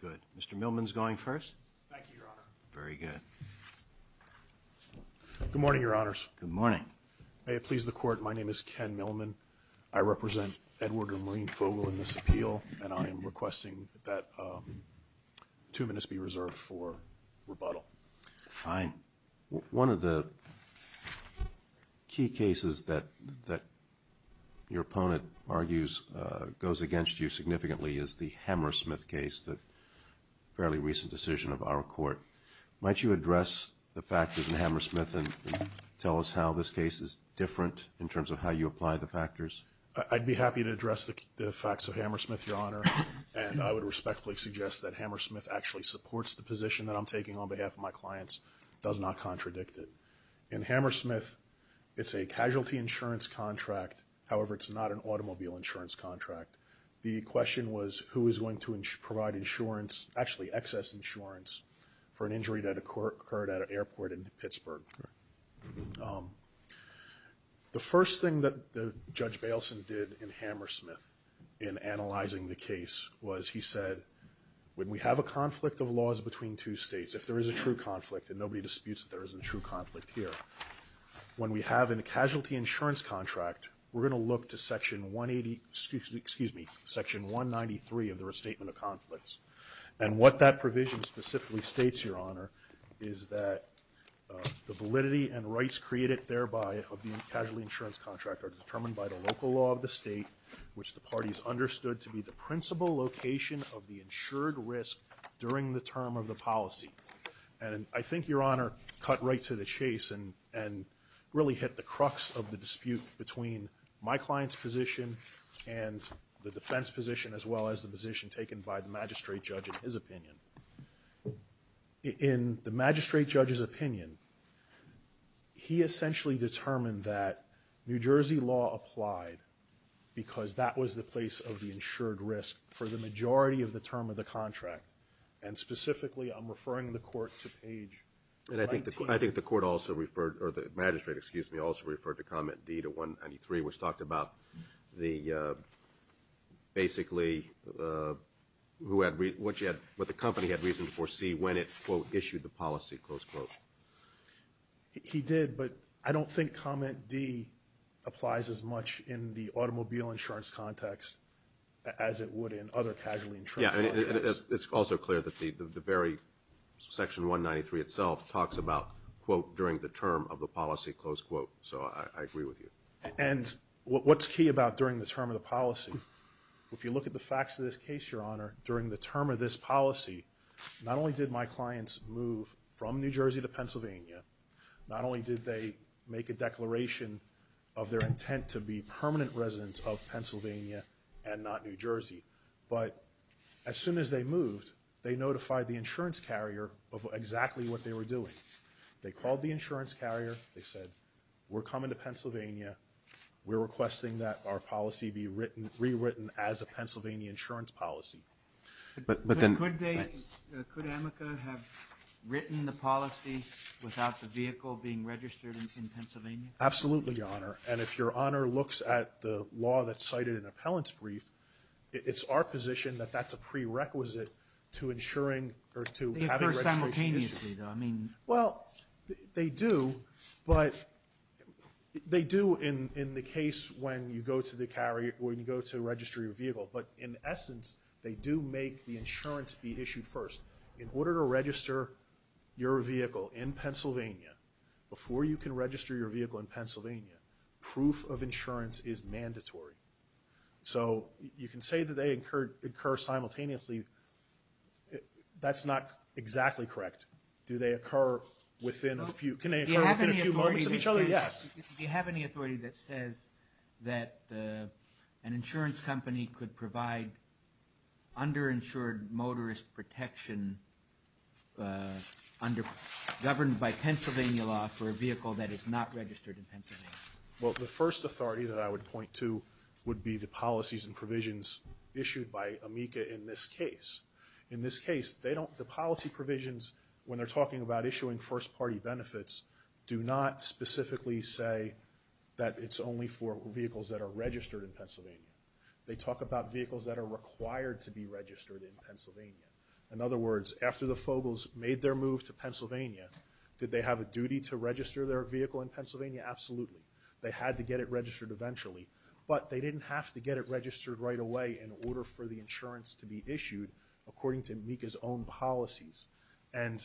Good. Mr. Millman's going first. Thank you, Your Honor. Very good. Good morning, Your Honors. Good morning. May it please the Court, my name is Ken Millman. I represent Edward and Maureen Fogel in this appeal, and I am requesting that two minutes be reserved for rebuttal. Fine. One of the key cases that your opponent argues goes against you significantly is the Hammersmith case, the fairly recent decision of our Court. Might you address the factors in Hammersmith and tell us how this case is different in terms of how you apply the factors? I'd be happy to address the facts of Hammersmith, Your Honor, and I would respectfully suggest that Hammersmith actually supports the position that I'm taking on behalf of my clients, does not contradict it. In Hammersmith, it's a casualty insurance contract, however, it's not an automobile insurance contract. The question was who is going to provide insurance, actually excess insurance, for an injury that occurred at an airport in Pittsburgh. The first thing that Judge Bailson did in Hammersmith in analyzing the case was he said, when we have a conflict of laws between two states, if there is a true conflict, and nobody disputes that there is a true conflict here, when we have a casualty insurance contract, we're going to look to Section 183 of the Restatement of Conflicts. And what that provision specifically states, Your Honor, is that the validity and rights created thereby of the casualty insurance contract are determined by the local law of the state, which the parties understood to be the principal location of the insured risk during the term of the policy. And I think, Your Honor, cut right to the chase and really hit the crux of the dispute between my client's position and the defense position, as well as the position taken by the magistrate judge in his opinion. In the magistrate judge's opinion, he essentially determined that New Jersey law applied because that was the place of the insured risk for the majority of the term of the contract. And specifically, I'm referring the Court to page 19. I think the Court also referred, or the magistrate, excuse me, also referred to Comment D to 193, which talked about basically what the company had reason to foresee when it, quote, issued the policy, close quote. He did, but I don't think Comment D applies as much in the automobile insurance context as it would in other casualty insurance contexts. Yeah, and it's also clear that the very section 193 itself talks about, quote, during the term of the policy, close quote. So I agree with you. And what's key about during the term of the policy? If you look at the facts of this case, Your Honor, during the term of this policy, not only did my clients move from New Jersey to Pennsylvania, not only did they make a declaration of their intent to be permanent residents of Pennsylvania and not New Jersey, but as soon as they moved, they notified the insurance carrier of exactly what they were doing. They called the insurance carrier. They said, we're coming to Pennsylvania. We're requesting that our policy be rewritten as a Pennsylvania insurance policy. But then could they, could AMICA have written the policy without the vehicle being registered in Pennsylvania? Absolutely, Your Honor. And if Your Honor looks at the law that's cited in the appellant's brief, it's our position that that's a prerequisite to insuring or to having registration issued. Well, they do, but they do in the case when you go to the carrier, when you go to register your vehicle. But in essence, they do make the insurance be issued first. In order to register your vehicle in Pennsylvania, before you can register your vehicle in Pennsylvania, proof of insurance is mandatory. So you can say that they occur simultaneously. That's not exactly correct. Do they occur within a few, can they occur within a few moments of each other? Yes. Do you have any authority that says that an insurance company could provide underinsured motorist protection governed by Pennsylvania law for a vehicle that is not registered in Pennsylvania? Well, the first authority that I would point to would be the policies and provisions issued by AMICA in this case. In this case, the policy provisions, when they're talking about issuing first-party benefits, do not specifically say that it's only for vehicles that are registered in Pennsylvania. They talk about vehicles that are required to be registered in Pennsylvania. In other words, after the Fogles made their move to Pennsylvania, did they have a duty to register their vehicle in Pennsylvania? Absolutely. They had to get it registered eventually, but they didn't have to get it registered right away in order for the insurance to be issued according to AMICA's own policies. And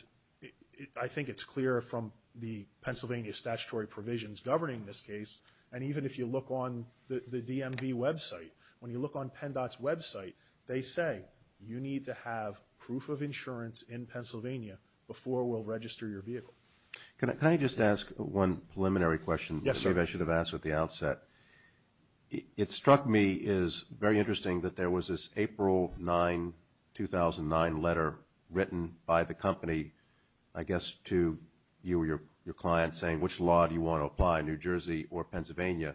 I think it's clear from the Pennsylvania statutory provisions governing this case, and even if you look on the DMV website, when you look on PennDOT's website, they say you need to have proof of insurance in Pennsylvania before we'll register your vehicle. Can I just ask one preliminary question? Yes, sir. I believe I should have asked at the outset. It struck me as very interesting that there was this April 9, 2009 letter written by the company, I guess, to you or your client saying which law do you want to apply, New Jersey or Pennsylvania,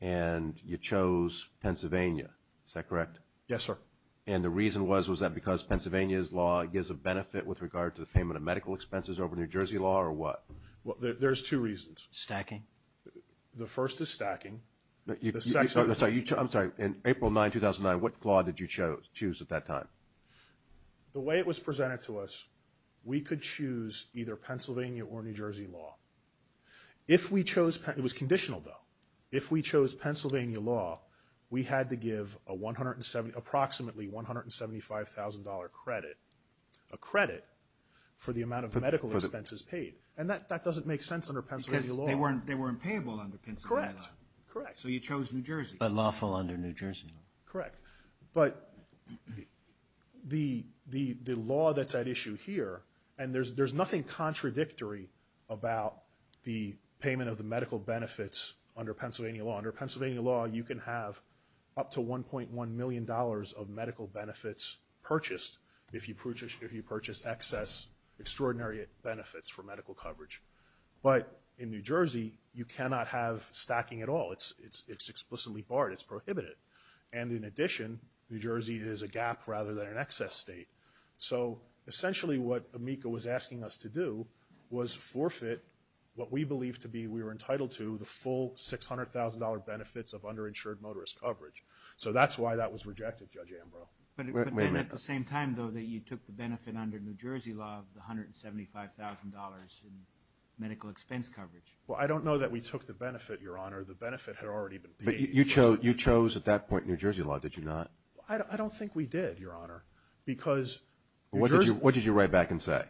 and you chose Pennsylvania. Is that correct? Yes, sir. And the reason was, was that because Pennsylvania's law gives a benefit with regard to the payment of medical expenses over New Jersey law or what? Well, there's two reasons. Stacking? The first is stacking. I'm sorry. In April 9, 2009, what law did you choose at that time? The way it was presented to us, we could choose either Pennsylvania or New Jersey law. It was conditional, though. If we chose Pennsylvania law, we had to give approximately $175,000 credit, a credit for the amount of medical expenses paid. And that doesn't make sense under Pennsylvania law. Because they weren't payable under Pennsylvania law. Correct. Correct. So you chose New Jersey. But lawful under New Jersey law. Correct. But the law that's at issue here, and there's nothing contradictory about the payment of the medical benefits under Pennsylvania law. Under Pennsylvania law, you can have up to $1.1 million of medical benefits purchased if you purchase excess extraordinary benefits for medical coverage. But in New Jersey, you cannot have stacking at all. It's explicitly barred. It's prohibited. And in addition, New Jersey is a gap rather than an excess state. So essentially what AMICA was asking us to do was forfeit what we believed to be we were entitled to, the full $600,000 benefits of underinsured motorist coverage. So that's why that was rejected, Judge Ambrose. But then at the same time, though, that you took the benefit under New Jersey law of the $175,000 in medical expense coverage. Well, I don't know that we took the benefit, Your Honor. The benefit had already been paid. But you chose at that point New Jersey law, did you not? I don't think we did, Your Honor. Because New Jersey was… What did you write back and say?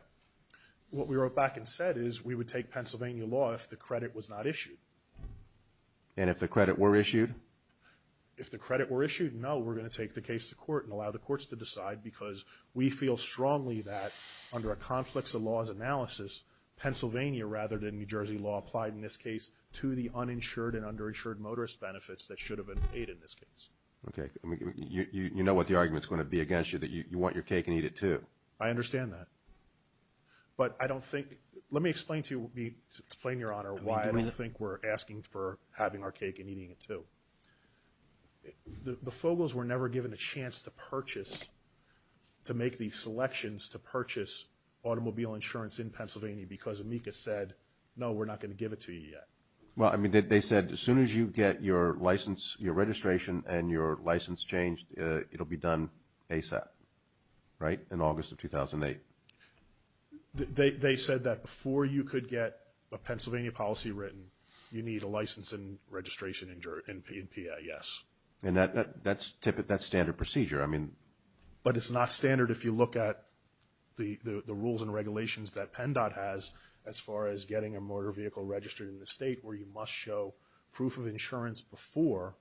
What we wrote back and said is we would take Pennsylvania law if the credit was not issued. And if the credit were issued? If the credit were issued, no, we're going to take the case to court and allow the courts to decide because we feel strongly that under a conflicts of laws analysis, Pennsylvania rather than New Jersey law applied in this case to the uninsured and underinsured motorist benefits that should have been paid in this case. Okay. You know what the argument is going to be against you, that you want your cake and eat it too. I understand that. I don't think we're asking for having our cake and eating it too. The FOGOs were never given a chance to purchase, to make these selections to purchase automobile insurance in Pennsylvania because Amica said, no, we're not going to give it to you yet. Well, I mean, they said as soon as you get your license, your registration and your license changed, it will be done ASAP, right, in August of 2008. They said that before you could get a Pennsylvania policy written, you need a license and registration in PIS. And that's standard procedure. But it's not standard if you look at the rules and regulations that PennDOT has as far as getting a motor vehicle registered in the state where you must show proof of insurance before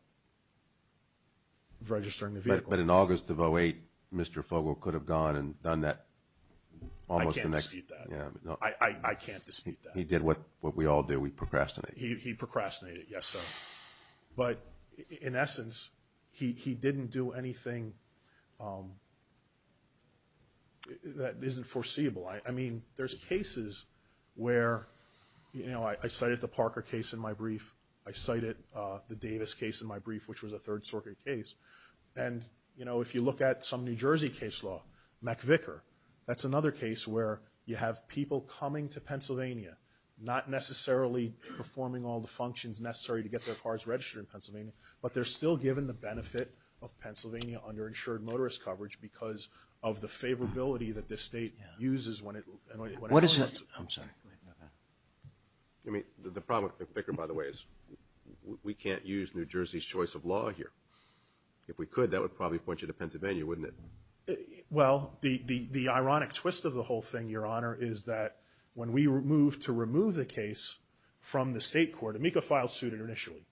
registering the vehicle. But in August of 2008, Mr. FOGO could have gone and done that. I can't dispute that. I can't dispute that. He did what we all do. We procrastinate. He procrastinated, yes, sir. But in essence, he didn't do anything that isn't foreseeable. I mean, there's cases where, you know, I cited the Parker case in my brief. I cited the Davis case in my brief, which was a Third Circuit case. And, you know, if you look at some New Jersey case law, McVicker, that's another case where you have people coming to Pennsylvania, not necessarily performing all the functions necessary to get their cars registered in Pennsylvania, but they're still given the benefit of Pennsylvania underinsured motorist coverage because of the favorability that this state uses when it calls it. I'm sorry. I mean, the problem with McVicker, by the way, is we can't use New Jersey's choice of law here. If we could, that would probably point you to Pennsylvania, wouldn't it? Well, the ironic twist of the whole thing, Your Honor, is that when we moved to remove the case from the state court, Amica filed suit initially.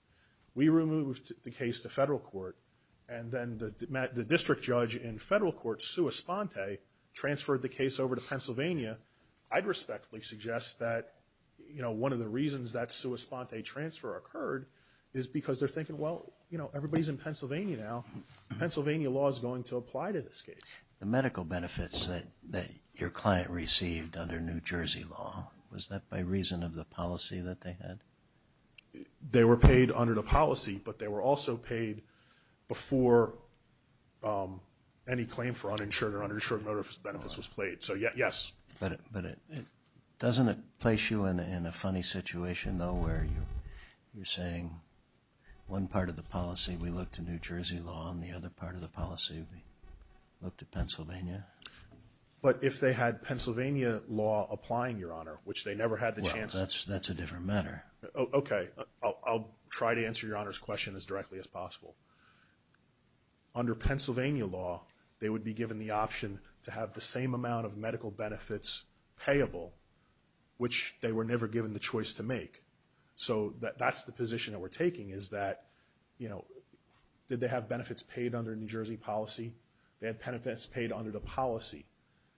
We removed the case to federal court, and then the district judge in federal court, transferred the case over to Pennsylvania, I'd respectfully suggest that, you know, one of the reasons that sua sponte transfer occurred is because they're thinking, well, you know, everybody's in Pennsylvania now. Pennsylvania law is going to apply to this case. The medical benefits that your client received under New Jersey law, was that by reason of the policy that they had? They were paid under the policy, but they were also paid before any claim for uninsured or uninsured motorist benefits was paid. So, yes. But doesn't it place you in a funny situation, though, where you're saying one part of the policy, we look to New Jersey law, and the other part of the policy, we look to Pennsylvania? But if they had Pennsylvania law applying, Your Honor, which they never had the chance to. Well, that's a different matter. Okay. I'll try to answer Your Honor's question as directly as possible. Under Pennsylvania law, they would be given the option to have the same amount of medical benefits payable, which they were never given the choice to make. So that's the position that we're taking, is that, you know, did they have benefits paid under New Jersey policy? They had benefits paid under the policy.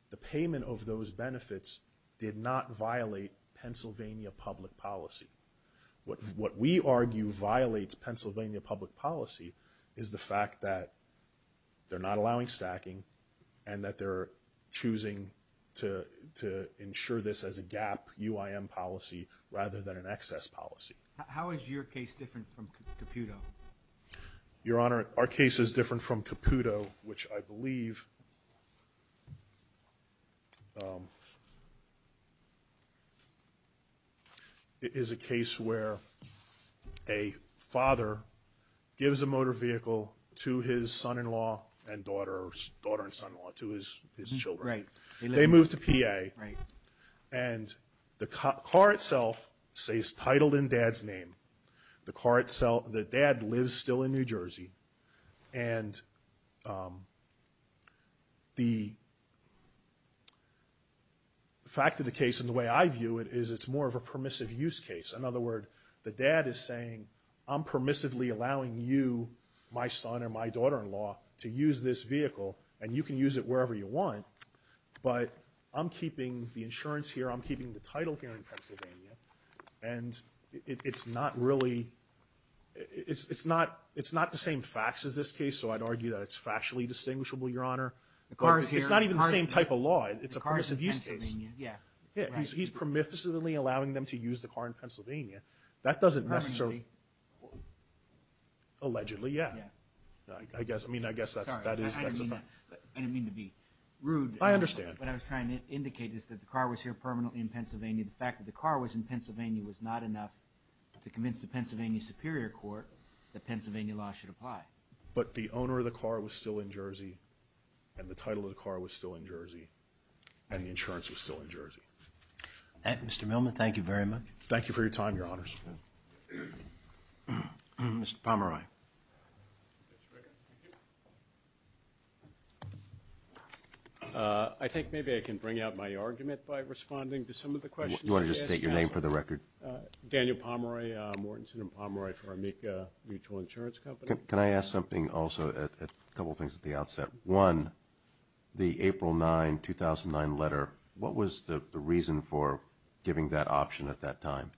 The payment of those benefits did not violate Pennsylvania public policy. What we argue violates Pennsylvania public policy is the fact that they're not allowing stacking and that they're choosing to ensure this as a gap UIM policy rather than an excess policy. Your Honor, our case is different from Caputo, which I believe is a case where a father gives a motor vehicle to his son-in-law and daughter and son-in-law, to his children. Right. They move to PA. Right. And the car itself stays titled in dad's name. The car itself, the dad lives still in New Jersey. And the fact of the case and the way I view it is it's more of a permissive use case. In other words, the dad is saying, I'm permissively allowing you, my son or my daughter-in-law, to use this vehicle, and you can use it wherever you want, but I'm keeping the insurance here, I'm keeping the title here in Pennsylvania, and it's not really, it's not the same facts as this case, so I'd argue that it's factually distinguishable, Your Honor. It's not even the same type of law. It's a permissive use case. Yeah. He's permissively allowing them to use the car in Pennsylvania. That doesn't necessarily, allegedly, yeah. Yeah. I mean, I guess that's a fact. I didn't mean to be rude. I understand. What I was trying to indicate is that the car was here permanently in Pennsylvania. The fact that the car was in Pennsylvania was not enough to convince the Pennsylvania Superior Court that Pennsylvania law should apply. But the owner of the car was still in Jersey, and the title of the car was still in Jersey, and the insurance was still in Jersey. Mr. Millman, thank you very much. Thank you for your time, Your Honors. Mr. Pomeroy. Thank you. I think maybe I can bring out my argument by responding to some of the questions you asked. Do you want to just state your name for the record? Daniel Pomeroy. I'm Whartonson and Pomeroy for Amica Mutual Insurance Company. Can I ask something also, a couple things at the outset? One, the April 9, 2009 letter, what was the reason for giving that option at that time,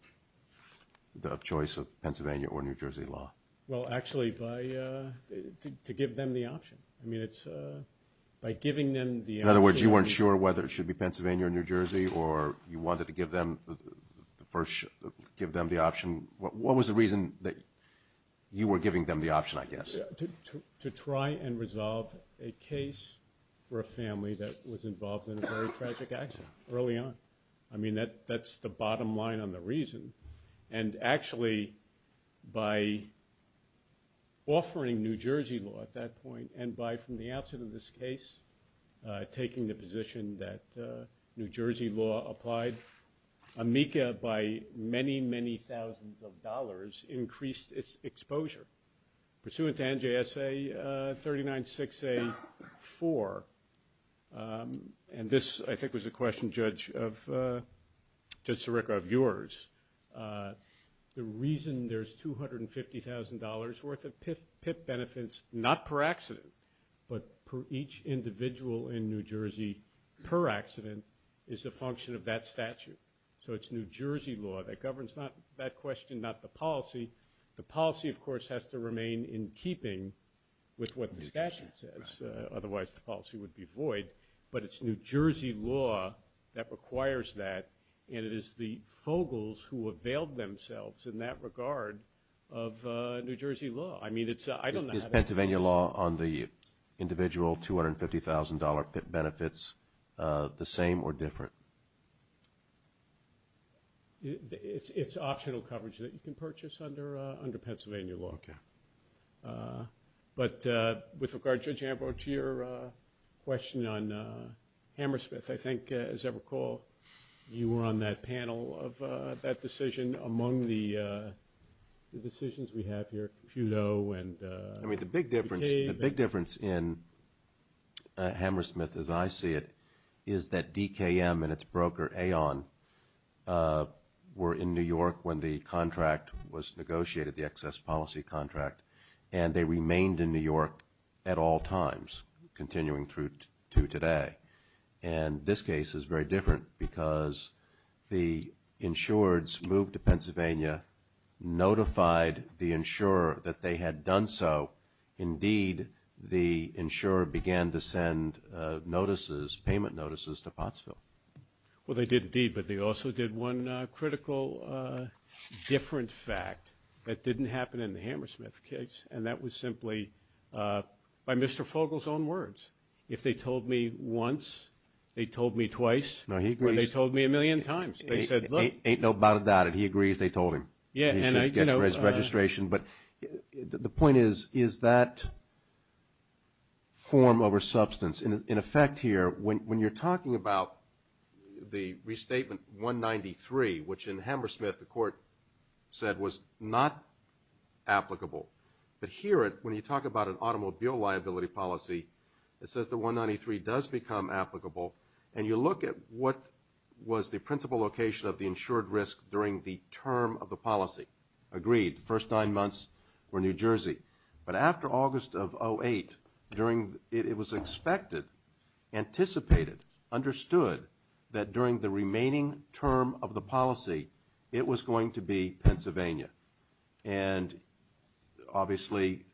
the choice of Pennsylvania or New Jersey law? Well, actually, to give them the option. I mean, it's by giving them the option. In other words, you weren't sure whether it should be Pennsylvania or New Jersey, or you wanted to give them the option. What was the reason that you were giving them the option, I guess? To try and resolve a case for a family that was involved in a very tragic accident early on. I mean, that's the bottom line on the reason. And actually, by offering New Jersey law at that point, and by, from the outset of this case, taking the position that New Jersey law applied, Amica, by many, many thousands of dollars, increased its exposure. Pursuant to NJSA 39-6A-4, and this, I think, was a question, Judge Sirica, of yours, the reason there's $250,000 worth of PIP benefits, not per accident, but per each individual in New Jersey per accident, is a function of that statute. So it's New Jersey law that governs that question, not the policy. The policy, of course, has to remain in keeping with what the statute says. Otherwise, the policy would be void. But it's New Jersey law that requires that, and it is the Fogles who availed themselves in that regard of New Jersey law. I mean, I don't know how that works. Is Pennsylvania law on the individual $250,000 PIP benefits the same or different? It's optional coverage that you can purchase under Pennsylvania law. Okay. But with regard, Judge Ambrose, to your question on Hammersmith, I think, as I recall, you were on that panel of that decision among the decisions we have here, Compute O and DKM. I mean, the big difference in Hammersmith, as I see it, is that DKM and its broker Aon were in New York when the contract was negotiated, the excess policy contract, and they remained in New York at all times, continuing through to today. And this case is very different because the insureds moved to Pennsylvania, notified the insurer that they had done so. Indeed, the insurer began to send notices, payment notices, to Pottsville. Well, they did indeed, but they also did one critical different fact that didn't happen in the Hammersmith case, and that was simply by Mr. Fogles' own words. If they told me once, they told me twice. No, he agrees. Or they told me a million times. They said, look. Ain't no doubt about it. He agrees they told him. Yeah, and I, you know. But the point is, is that form over substance? In effect here, when you're talking about the restatement 193, which in Hammersmith the court said was not applicable, but here when you talk about an automobile liability policy, it says that 193 does become applicable, and you look at what was the principal location of the insured risk during the term of the policy. Agreed. The first nine months were New Jersey. But after August of 2008, it was expected, anticipated, understood that during the remaining term of the policy, it was going to be Pennsylvania. And obviously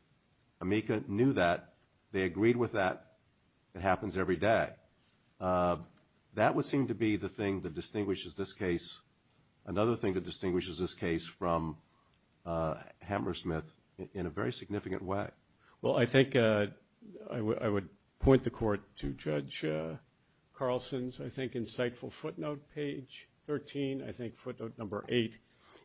AMICA knew that. They agreed with that. It happens every day. That would seem to be the thing that distinguishes this case, another thing that distinguishes this case from Hammersmith, in a very significant way. Well, I think I would point the court to Judge Carlson's, I think, insightful footnote, page 13, I think footnote number 8,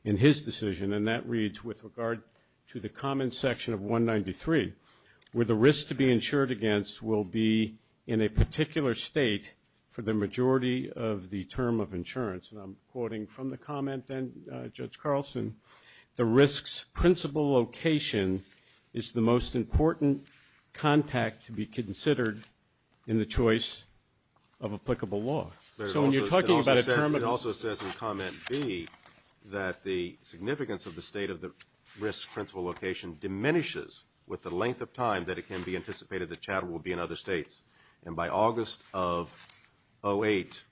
in his decision. And that reads, with regard to the common section of 193, where the risk to be insured against will be in a particular state for the majority of the term of insurance, and I'm quoting from the comment, then, Judge Carlson, the risk's principal location is the most important contact to be considered in the choice of applicable law. So when you're talking about a term of law. It also says in comment B that the significance of the state of the risk's length of time that it can be anticipated that chattel will be in other states. And by August of 08,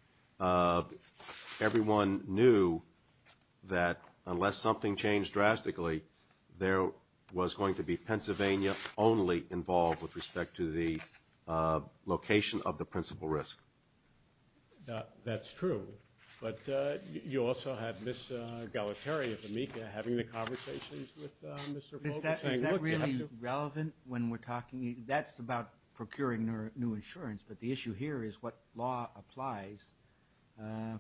everyone knew that unless something changed drastically, there was going to be Pennsylvania only involved with respect to the location of the principal risk. That's true. But you also had Ms. Galateri of AMICA having the conversations with Mr. That's about procuring new insurance, but the issue here is what law applies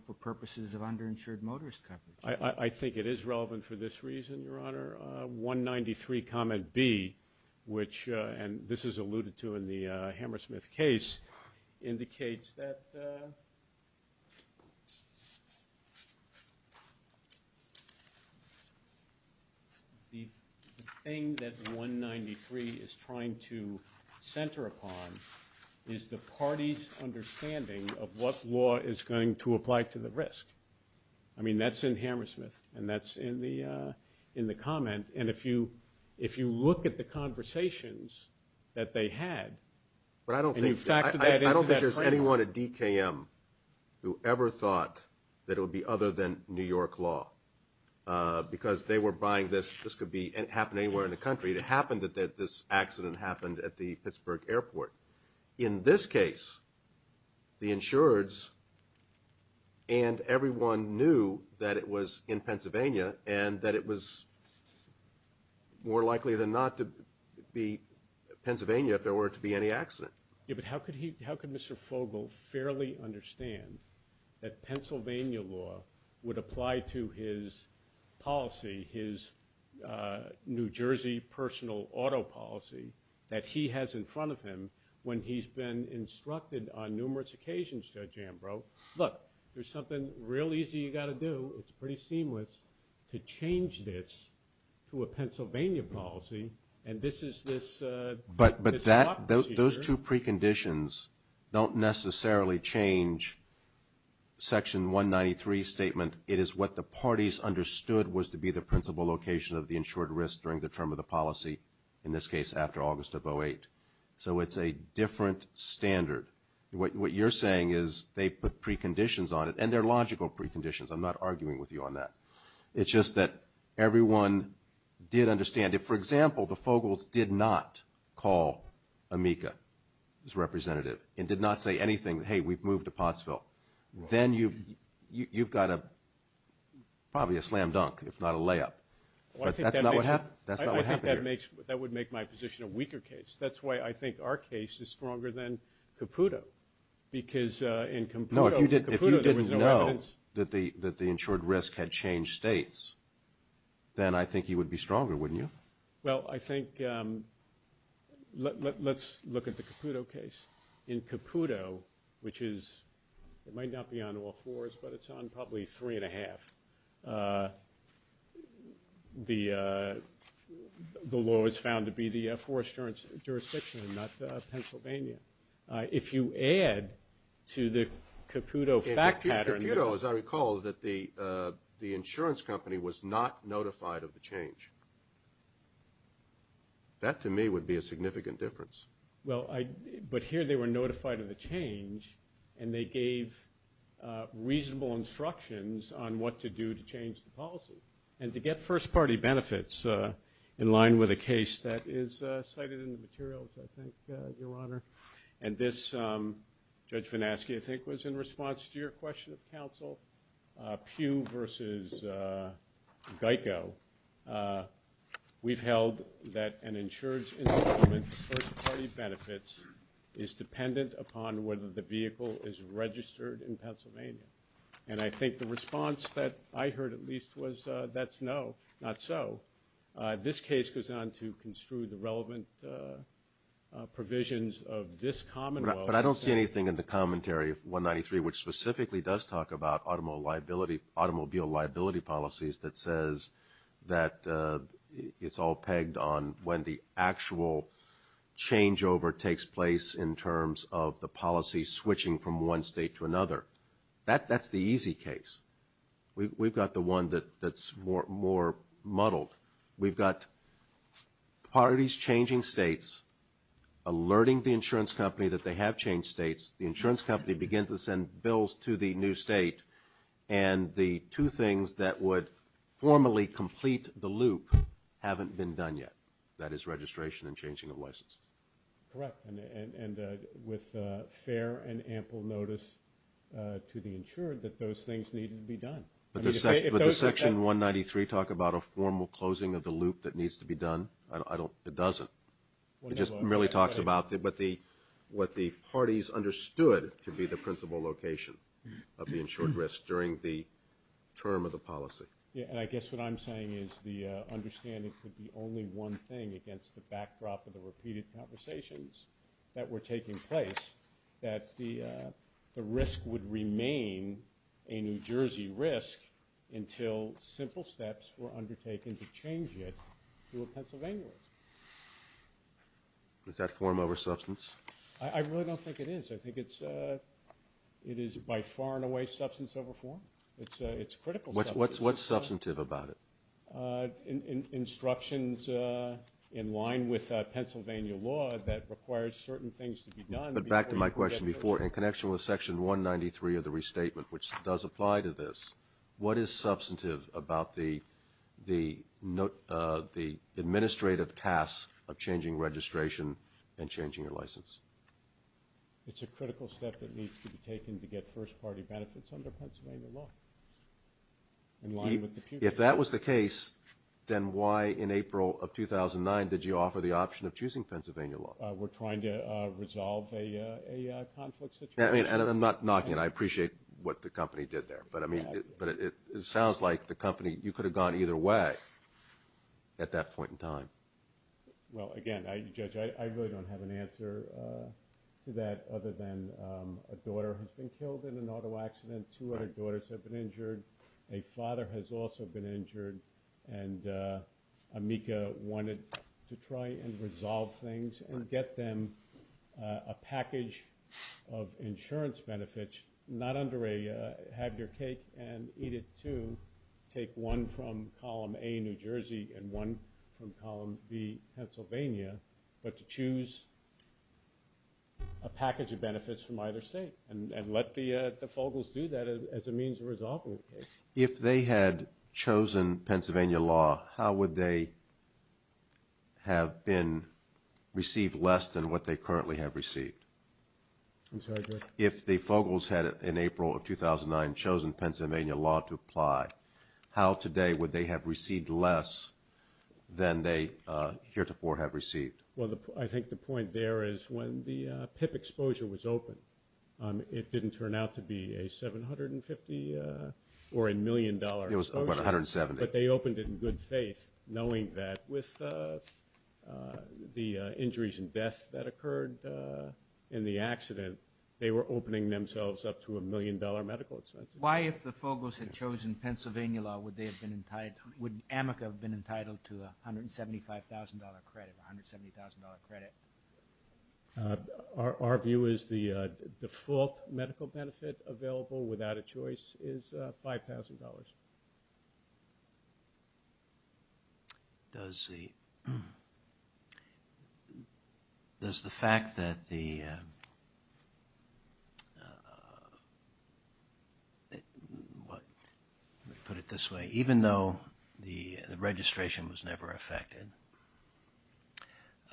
for purposes of underinsured motorist coverage. I think it is relevant for this reason, Your Honor. 193 comment B, which, and this is alluded to in the Hammersmith case, indicates that the thing that 193 is trying to center upon is the party's understanding of what law is going to apply to the risk. I mean, that's in Hammersmith and that's in the comment. And if you look at the conversations that they had, I don't think there's anyone at DKM who ever thought that it would be other than New York law because they were buying this. This could happen anywhere in the country. It happened that this accident happened at the Pittsburgh airport. In this case, the insureds and everyone knew that it was in Pennsylvania and that it was more likely than not to be Pennsylvania if there were to be any accident. Yeah, but how could he, how could Mr. Fogle fairly understand that Pennsylvania law would apply to his policy, his New Jersey personal auto policy that he has in front of him when he's been instructed on numerous occasions Judge Ambrose, look, there's something real easy you got to do. It's pretty seamless to change this to a Pennsylvania policy and this is this but, but, but that, those two preconditions don't necessarily change section 193 statement. It is what the parties understood was to be the principal location of the insured risk during the term of the policy in this case after August of 08. So it's a different standard. What you're saying is they put preconditions on it and their logical preconditions. I'm not arguing with you on that. It's just that everyone did understand it. So for example, the Fogles did not call Amica as representative and did not say anything. Hey, we've moved to Pottsville. Then you've, you've got a probably a slam dunk if not a layup, but that's not what happened. That's not what happened here. I think that makes, that would make my position a weaker case. That's why I think our case is stronger than Caputo because uh, in Caputo, if you didn't know that the, that the insured risk had changed states, then I think you would be stronger. Wouldn't you? Well, I think, um, let, let, let's look at the Caputo case in Caputo, which is, it might not be on all fours, but it's on probably three and a half. Uh, the, uh, the law is found to be the F4 insurance jurisdiction and not, uh, Pennsylvania. Uh, if you add to the Caputo fact pattern, Caputo, as I recall, that the, uh, the insurance company was not notified of the change. That to me would be a significant difference. Well, I, but here they were notified of the change and they gave, uh, reasonable instructions on what to do to change the policy and to get first party benefits, uh, in line with a case that is, uh, cited in the materials, I think, uh, your honor. And this, um, judge Vinasky, I think was in response to your question of council, uh, pew versus, uh, Geico. Uh, we've held that an insurance benefits is dependent upon whether the vehicle is registered in Pennsylvania. And I think the response that I heard at least was, uh, that's no, not so, uh, this case goes on to construe the relevant, uh, uh, provisions of this common. But I don't see anything in the commentary of one 93, which specifically does talk about automobile liability, automobile liability policies that says that, uh, it's all pegged on when the actual changeover takes place in terms of the policy switching from one state to another, that that's the easy case. We we've got the one that that's more, more muddled. We've got parties changing states, alerting the insurance company that they have changed states. The insurance company begins to send bills to the new state. And the two things that would formally complete the loop haven't been done yet. That is registration and changing of license. Correct. And, and, and, and, uh, with, uh, fair and ample notice, uh, to the insured, that those things need to be done. But the section, but the section one 93 talk about a formal closing of the loop that needs to be done. I don't, it doesn't, it just merely talks about the, but the, what the parties understood to be the principal location of the insured risk during the term of the policy. Yeah. And I guess what I'm saying is the, uh, understanding could be only one thing against the backdrop of the repeated conversations that were taking place, that the, uh, the risk would remain a New Jersey risk. Until simple steps were undertaken to change it to a Pennsylvania risk. Is that form over substance? I really don't think it is. I think it's, uh, it is by far and away substance over form. It's a, it's critical. What's, what's, what's substantive about it? Uh, instructions, uh, in line with a Pennsylvania law that requires certain things to be done. But back to my question before in connection with section one 93 of the restatement, which does apply to this, what is substantive about the, the note, uh, the administrative tasks of changing registration and changing your license. It's a critical step that needs to be taken to get first party benefits under Pennsylvania law. If that was the case, then why in April of 2009, did you offer the option of choosing Pennsylvania law? Uh, we're trying to, uh, resolve a, a, a conflict situation. I mean, and I'm not knocking it. I appreciate what the company did there, but I mean, but it, it sounds like the company, you could have gone either way at that point in time. Well, again, I, you judge, I, I really don't have an answer, uh, to that other than, um, a daughter has been killed in an auto accident. Two other daughters have been injured. A father has also been injured. And, uh, Amika wanted to try and resolve things and get them, uh, a package of insurance benefits, not under a, uh, have your cake and eat it too. Take one from column A, New Jersey, and one from column B, Pennsylvania, but to choose a package of benefits from either state. And, and let the, uh, the Fogles do that as a means of resolving the case. If they had chosen Pennsylvania law, how would they have been, received less than what they currently have received? I'm sorry, Greg. If the Fogles had in April of 2009 chosen Pennsylvania law to apply, how today would they have received less than they, uh, heretofore have received? Well, I think the point there is when the, uh, PIP exposure was open, um, it didn't turn out to be a 750, uh, or a million dollar exposure. It was about 170. But they opened it in good faith knowing that with, uh, the, uh, injuries and death that occurred, uh, in the accident, they were opening themselves up to a million dollar medical expenses. Why, if the Fogles had chosen Pennsylvania law, would they have been entitled, would AMICA have been entitled to a $175,000 credit, $170,000 credit? Uh, our, our view is the, uh, default medical benefit available without a choice is, uh, $5,000. Does the, um, does the fact that the, uh, uh, uh, what, let me put it this way. Even though the, the registration was never affected,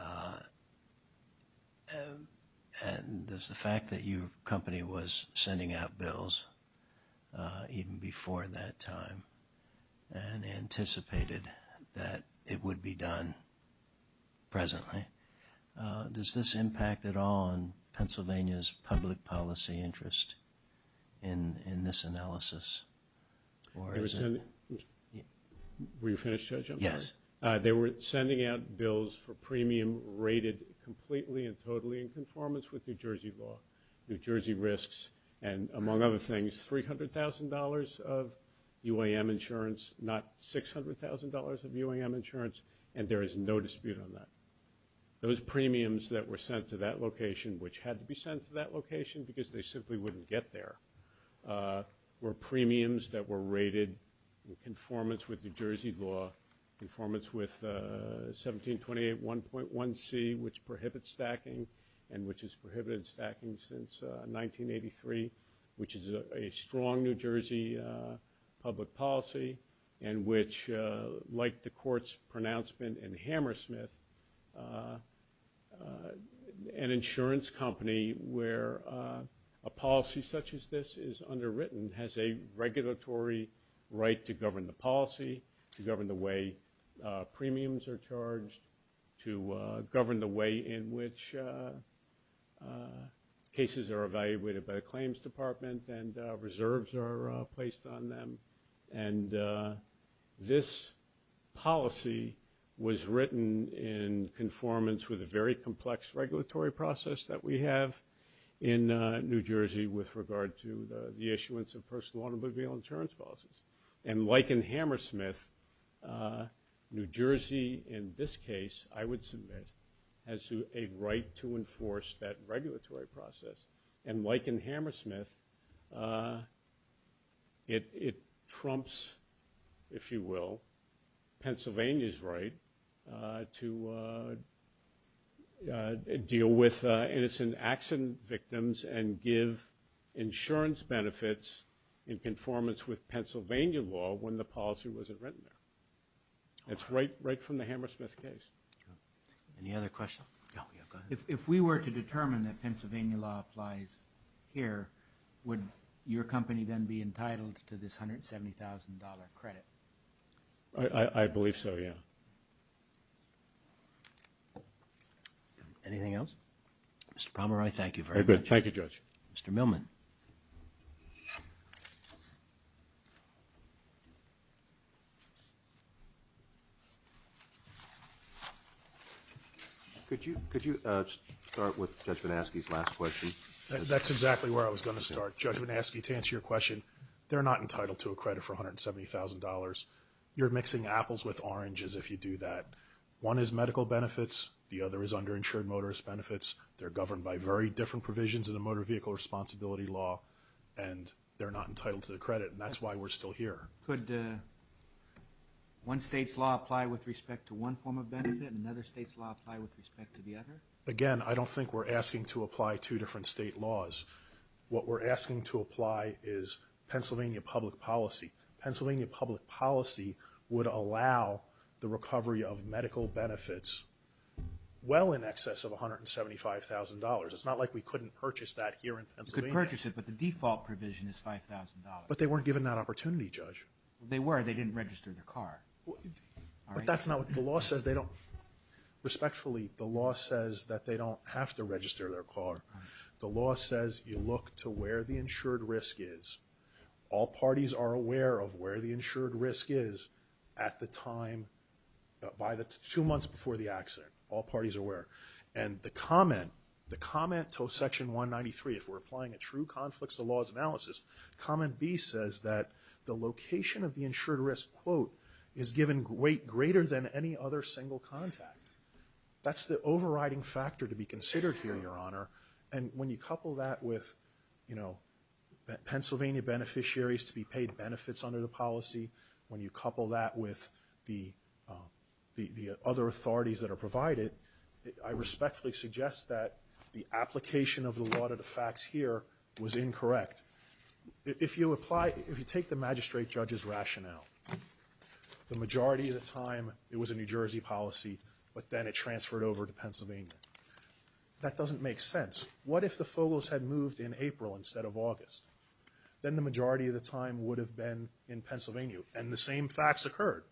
uh, uh, and there's the fact that your company was sending out bills, uh, even before that time, and anticipated that it would be done, presently, uh, does this impact at all on Pennsylvania's public policy interest in, in this analysis? Or is it? They were sending, were you finished, Judge? Yes. Uh, they were sending out bills for premium rated completely and totally in conformance with New Jersey law, New Jersey risks, and among other things, $300,000 of UAM insurance, not $600,000 of UAM insurance, and there is no dispute on that. Those premiums that were sent to that location, which had to be sent to that location because they simply wouldn't get there, uh, were premiums that were rated in conformance with New Jersey law, in conformance with, uh, 1728 1.1c, which prohibits stacking, and which has prohibited stacking since, 1983, which is a, a strong New Jersey, uh, public policy, and which, uh, like the court's pronouncement in Hammersmith, uh, uh, an insurance company where, uh, a policy such as this is underwritten, has a regulatory right to govern the policy, to govern the way, uh, premiums are charged, to, uh, govern the way in which, uh, uh, cases are evaluated by the claims department, and, uh, reserves are, uh, placed on them, and, uh, this policy was written in conformance with a very complex regulatory process that we have in, uh, New Jersey with regard to the, the issuance of personal automobile insurance policies. And like in Hammersmith, uh, New Jersey, in this case, I would submit, has a right to enforce that regulatory process. And like in Hammersmith, uh, it, it trumps, if you will, Pennsylvania's right, uh, to, uh, uh, deal with, uh, innocent accident victims and give insurance benefits in conformance with Pennsylvania law when the policy wasn't written there. That's right, right from the Hammersmith case. Any other questions? Yeah, go ahead. If, if we were to determine that Pennsylvania law applies here, would your company then be entitled to this $170,000 credit? I, I, I believe so, yeah. Anything else? Mr. Pomeroy, thank you very much. Very good. Thank you, Judge. Mr. Millman. Could you, could you, uh, start with Judge Van Aske's last question? That's exactly where I was going. I was going to start. Judge Van Aske, to answer your question, they're not entitled to a credit for $170,000. You're mixing apples with oranges if you do that. One is medical benefits. The other is underinsured motorist benefits. They're governed by very different provisions in the motor vehicle responsibility law, and they're not entitled to the credit, and that's why we're still here. Could, uh, one state's law apply with respect to one form of benefit, and another state's law apply with respect to the other? Again, I don't think we're asking to apply two different state laws. What we're asking to apply is Pennsylvania public policy. Pennsylvania public policy would allow the recovery of medical benefits well in excess of $175,000. It's not like we couldn't purchase that here in Pennsylvania. You could purchase it, but the default provision is $5,000. But they weren't given that opportunity, Judge. They were. They didn't register their car. Well, but that's not what the law says. They don't, respectfully, the law says that they don't have to register their car. The law says you look to where the insured risk is. All parties are aware of where the insured risk is at the time, by the, two months before the accident. All parties are aware. And the comment, the comment to section 193, if we're applying a true conflicts of laws analysis, comment B says that the location of the insured risk, quote, is given greater than any other single contact. That's the overriding factor to be considered here, Your Honor. And when you couple that with, you know, Pennsylvania beneficiaries to be paid benefits under the policy, when you couple that with the, the other authorities that are provided, I respectfully suggest that the application of the law to the facts here was incorrect. If you apply, if you take the magistrate judge's rationale, the majority of the time it was a New Jersey policy, but then it transferred over to Pennsylvania. That doesn't make sense. What if the photos had moved in April instead of August, then the majority of the time would have been in Pennsylvania and the same facts occurred.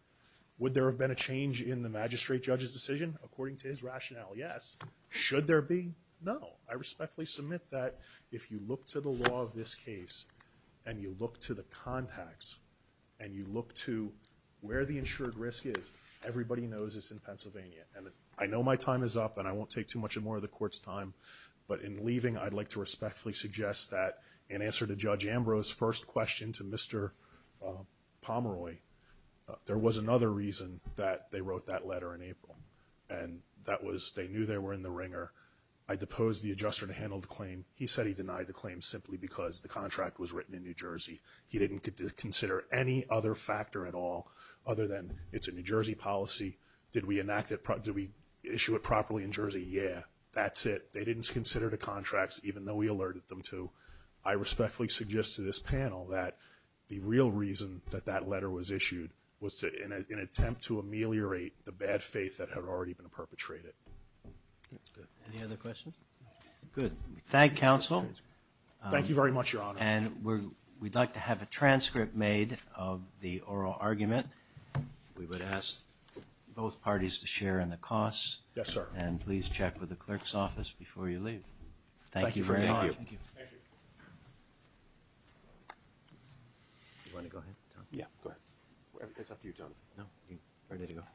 Would there have been a change in the magistrate judge's decision? According to his rationale? Yes. Should there be? No, I respectfully submit that if you look to the law of this case and you look to the contacts and you look to where the insured risk is, everybody knows it's in Pennsylvania. And I know my time is up and I won't take too much more of the court's time, but in leaving, I'd like to respectfully suggest that in answer to judge Ambrose, first question to Mr. Pomeroy, there was another reason that they wrote that letter in April. And that was, they knew they were in the ringer. I deposed the adjuster to handle the claim. He said he denied the claim simply because the contract was written in New Jersey. He didn't consider any other factor at all other than it's a New Jersey policy. Did we enact it? Did we issue it properly in Jersey? Yeah, that's it. They didn't consider the contracts, even though we alerted them to, I respectfully suggest to this panel that the real reason that that letter was issued was to, in an attempt to ameliorate the bad faith that had already been perpetrated. That's good. Any other questions? Good. Thank counsel. Thank you very much, your honor. And we're, we'd like to have a transcript made of the oral argument. We would ask both parties to share in the costs. Yes, sir. And please check with the clerk's office before you leave. Thank you very much. Thank you. Thank you. You want to go ahead? Yeah, go ahead. It's up to you, Tony. No.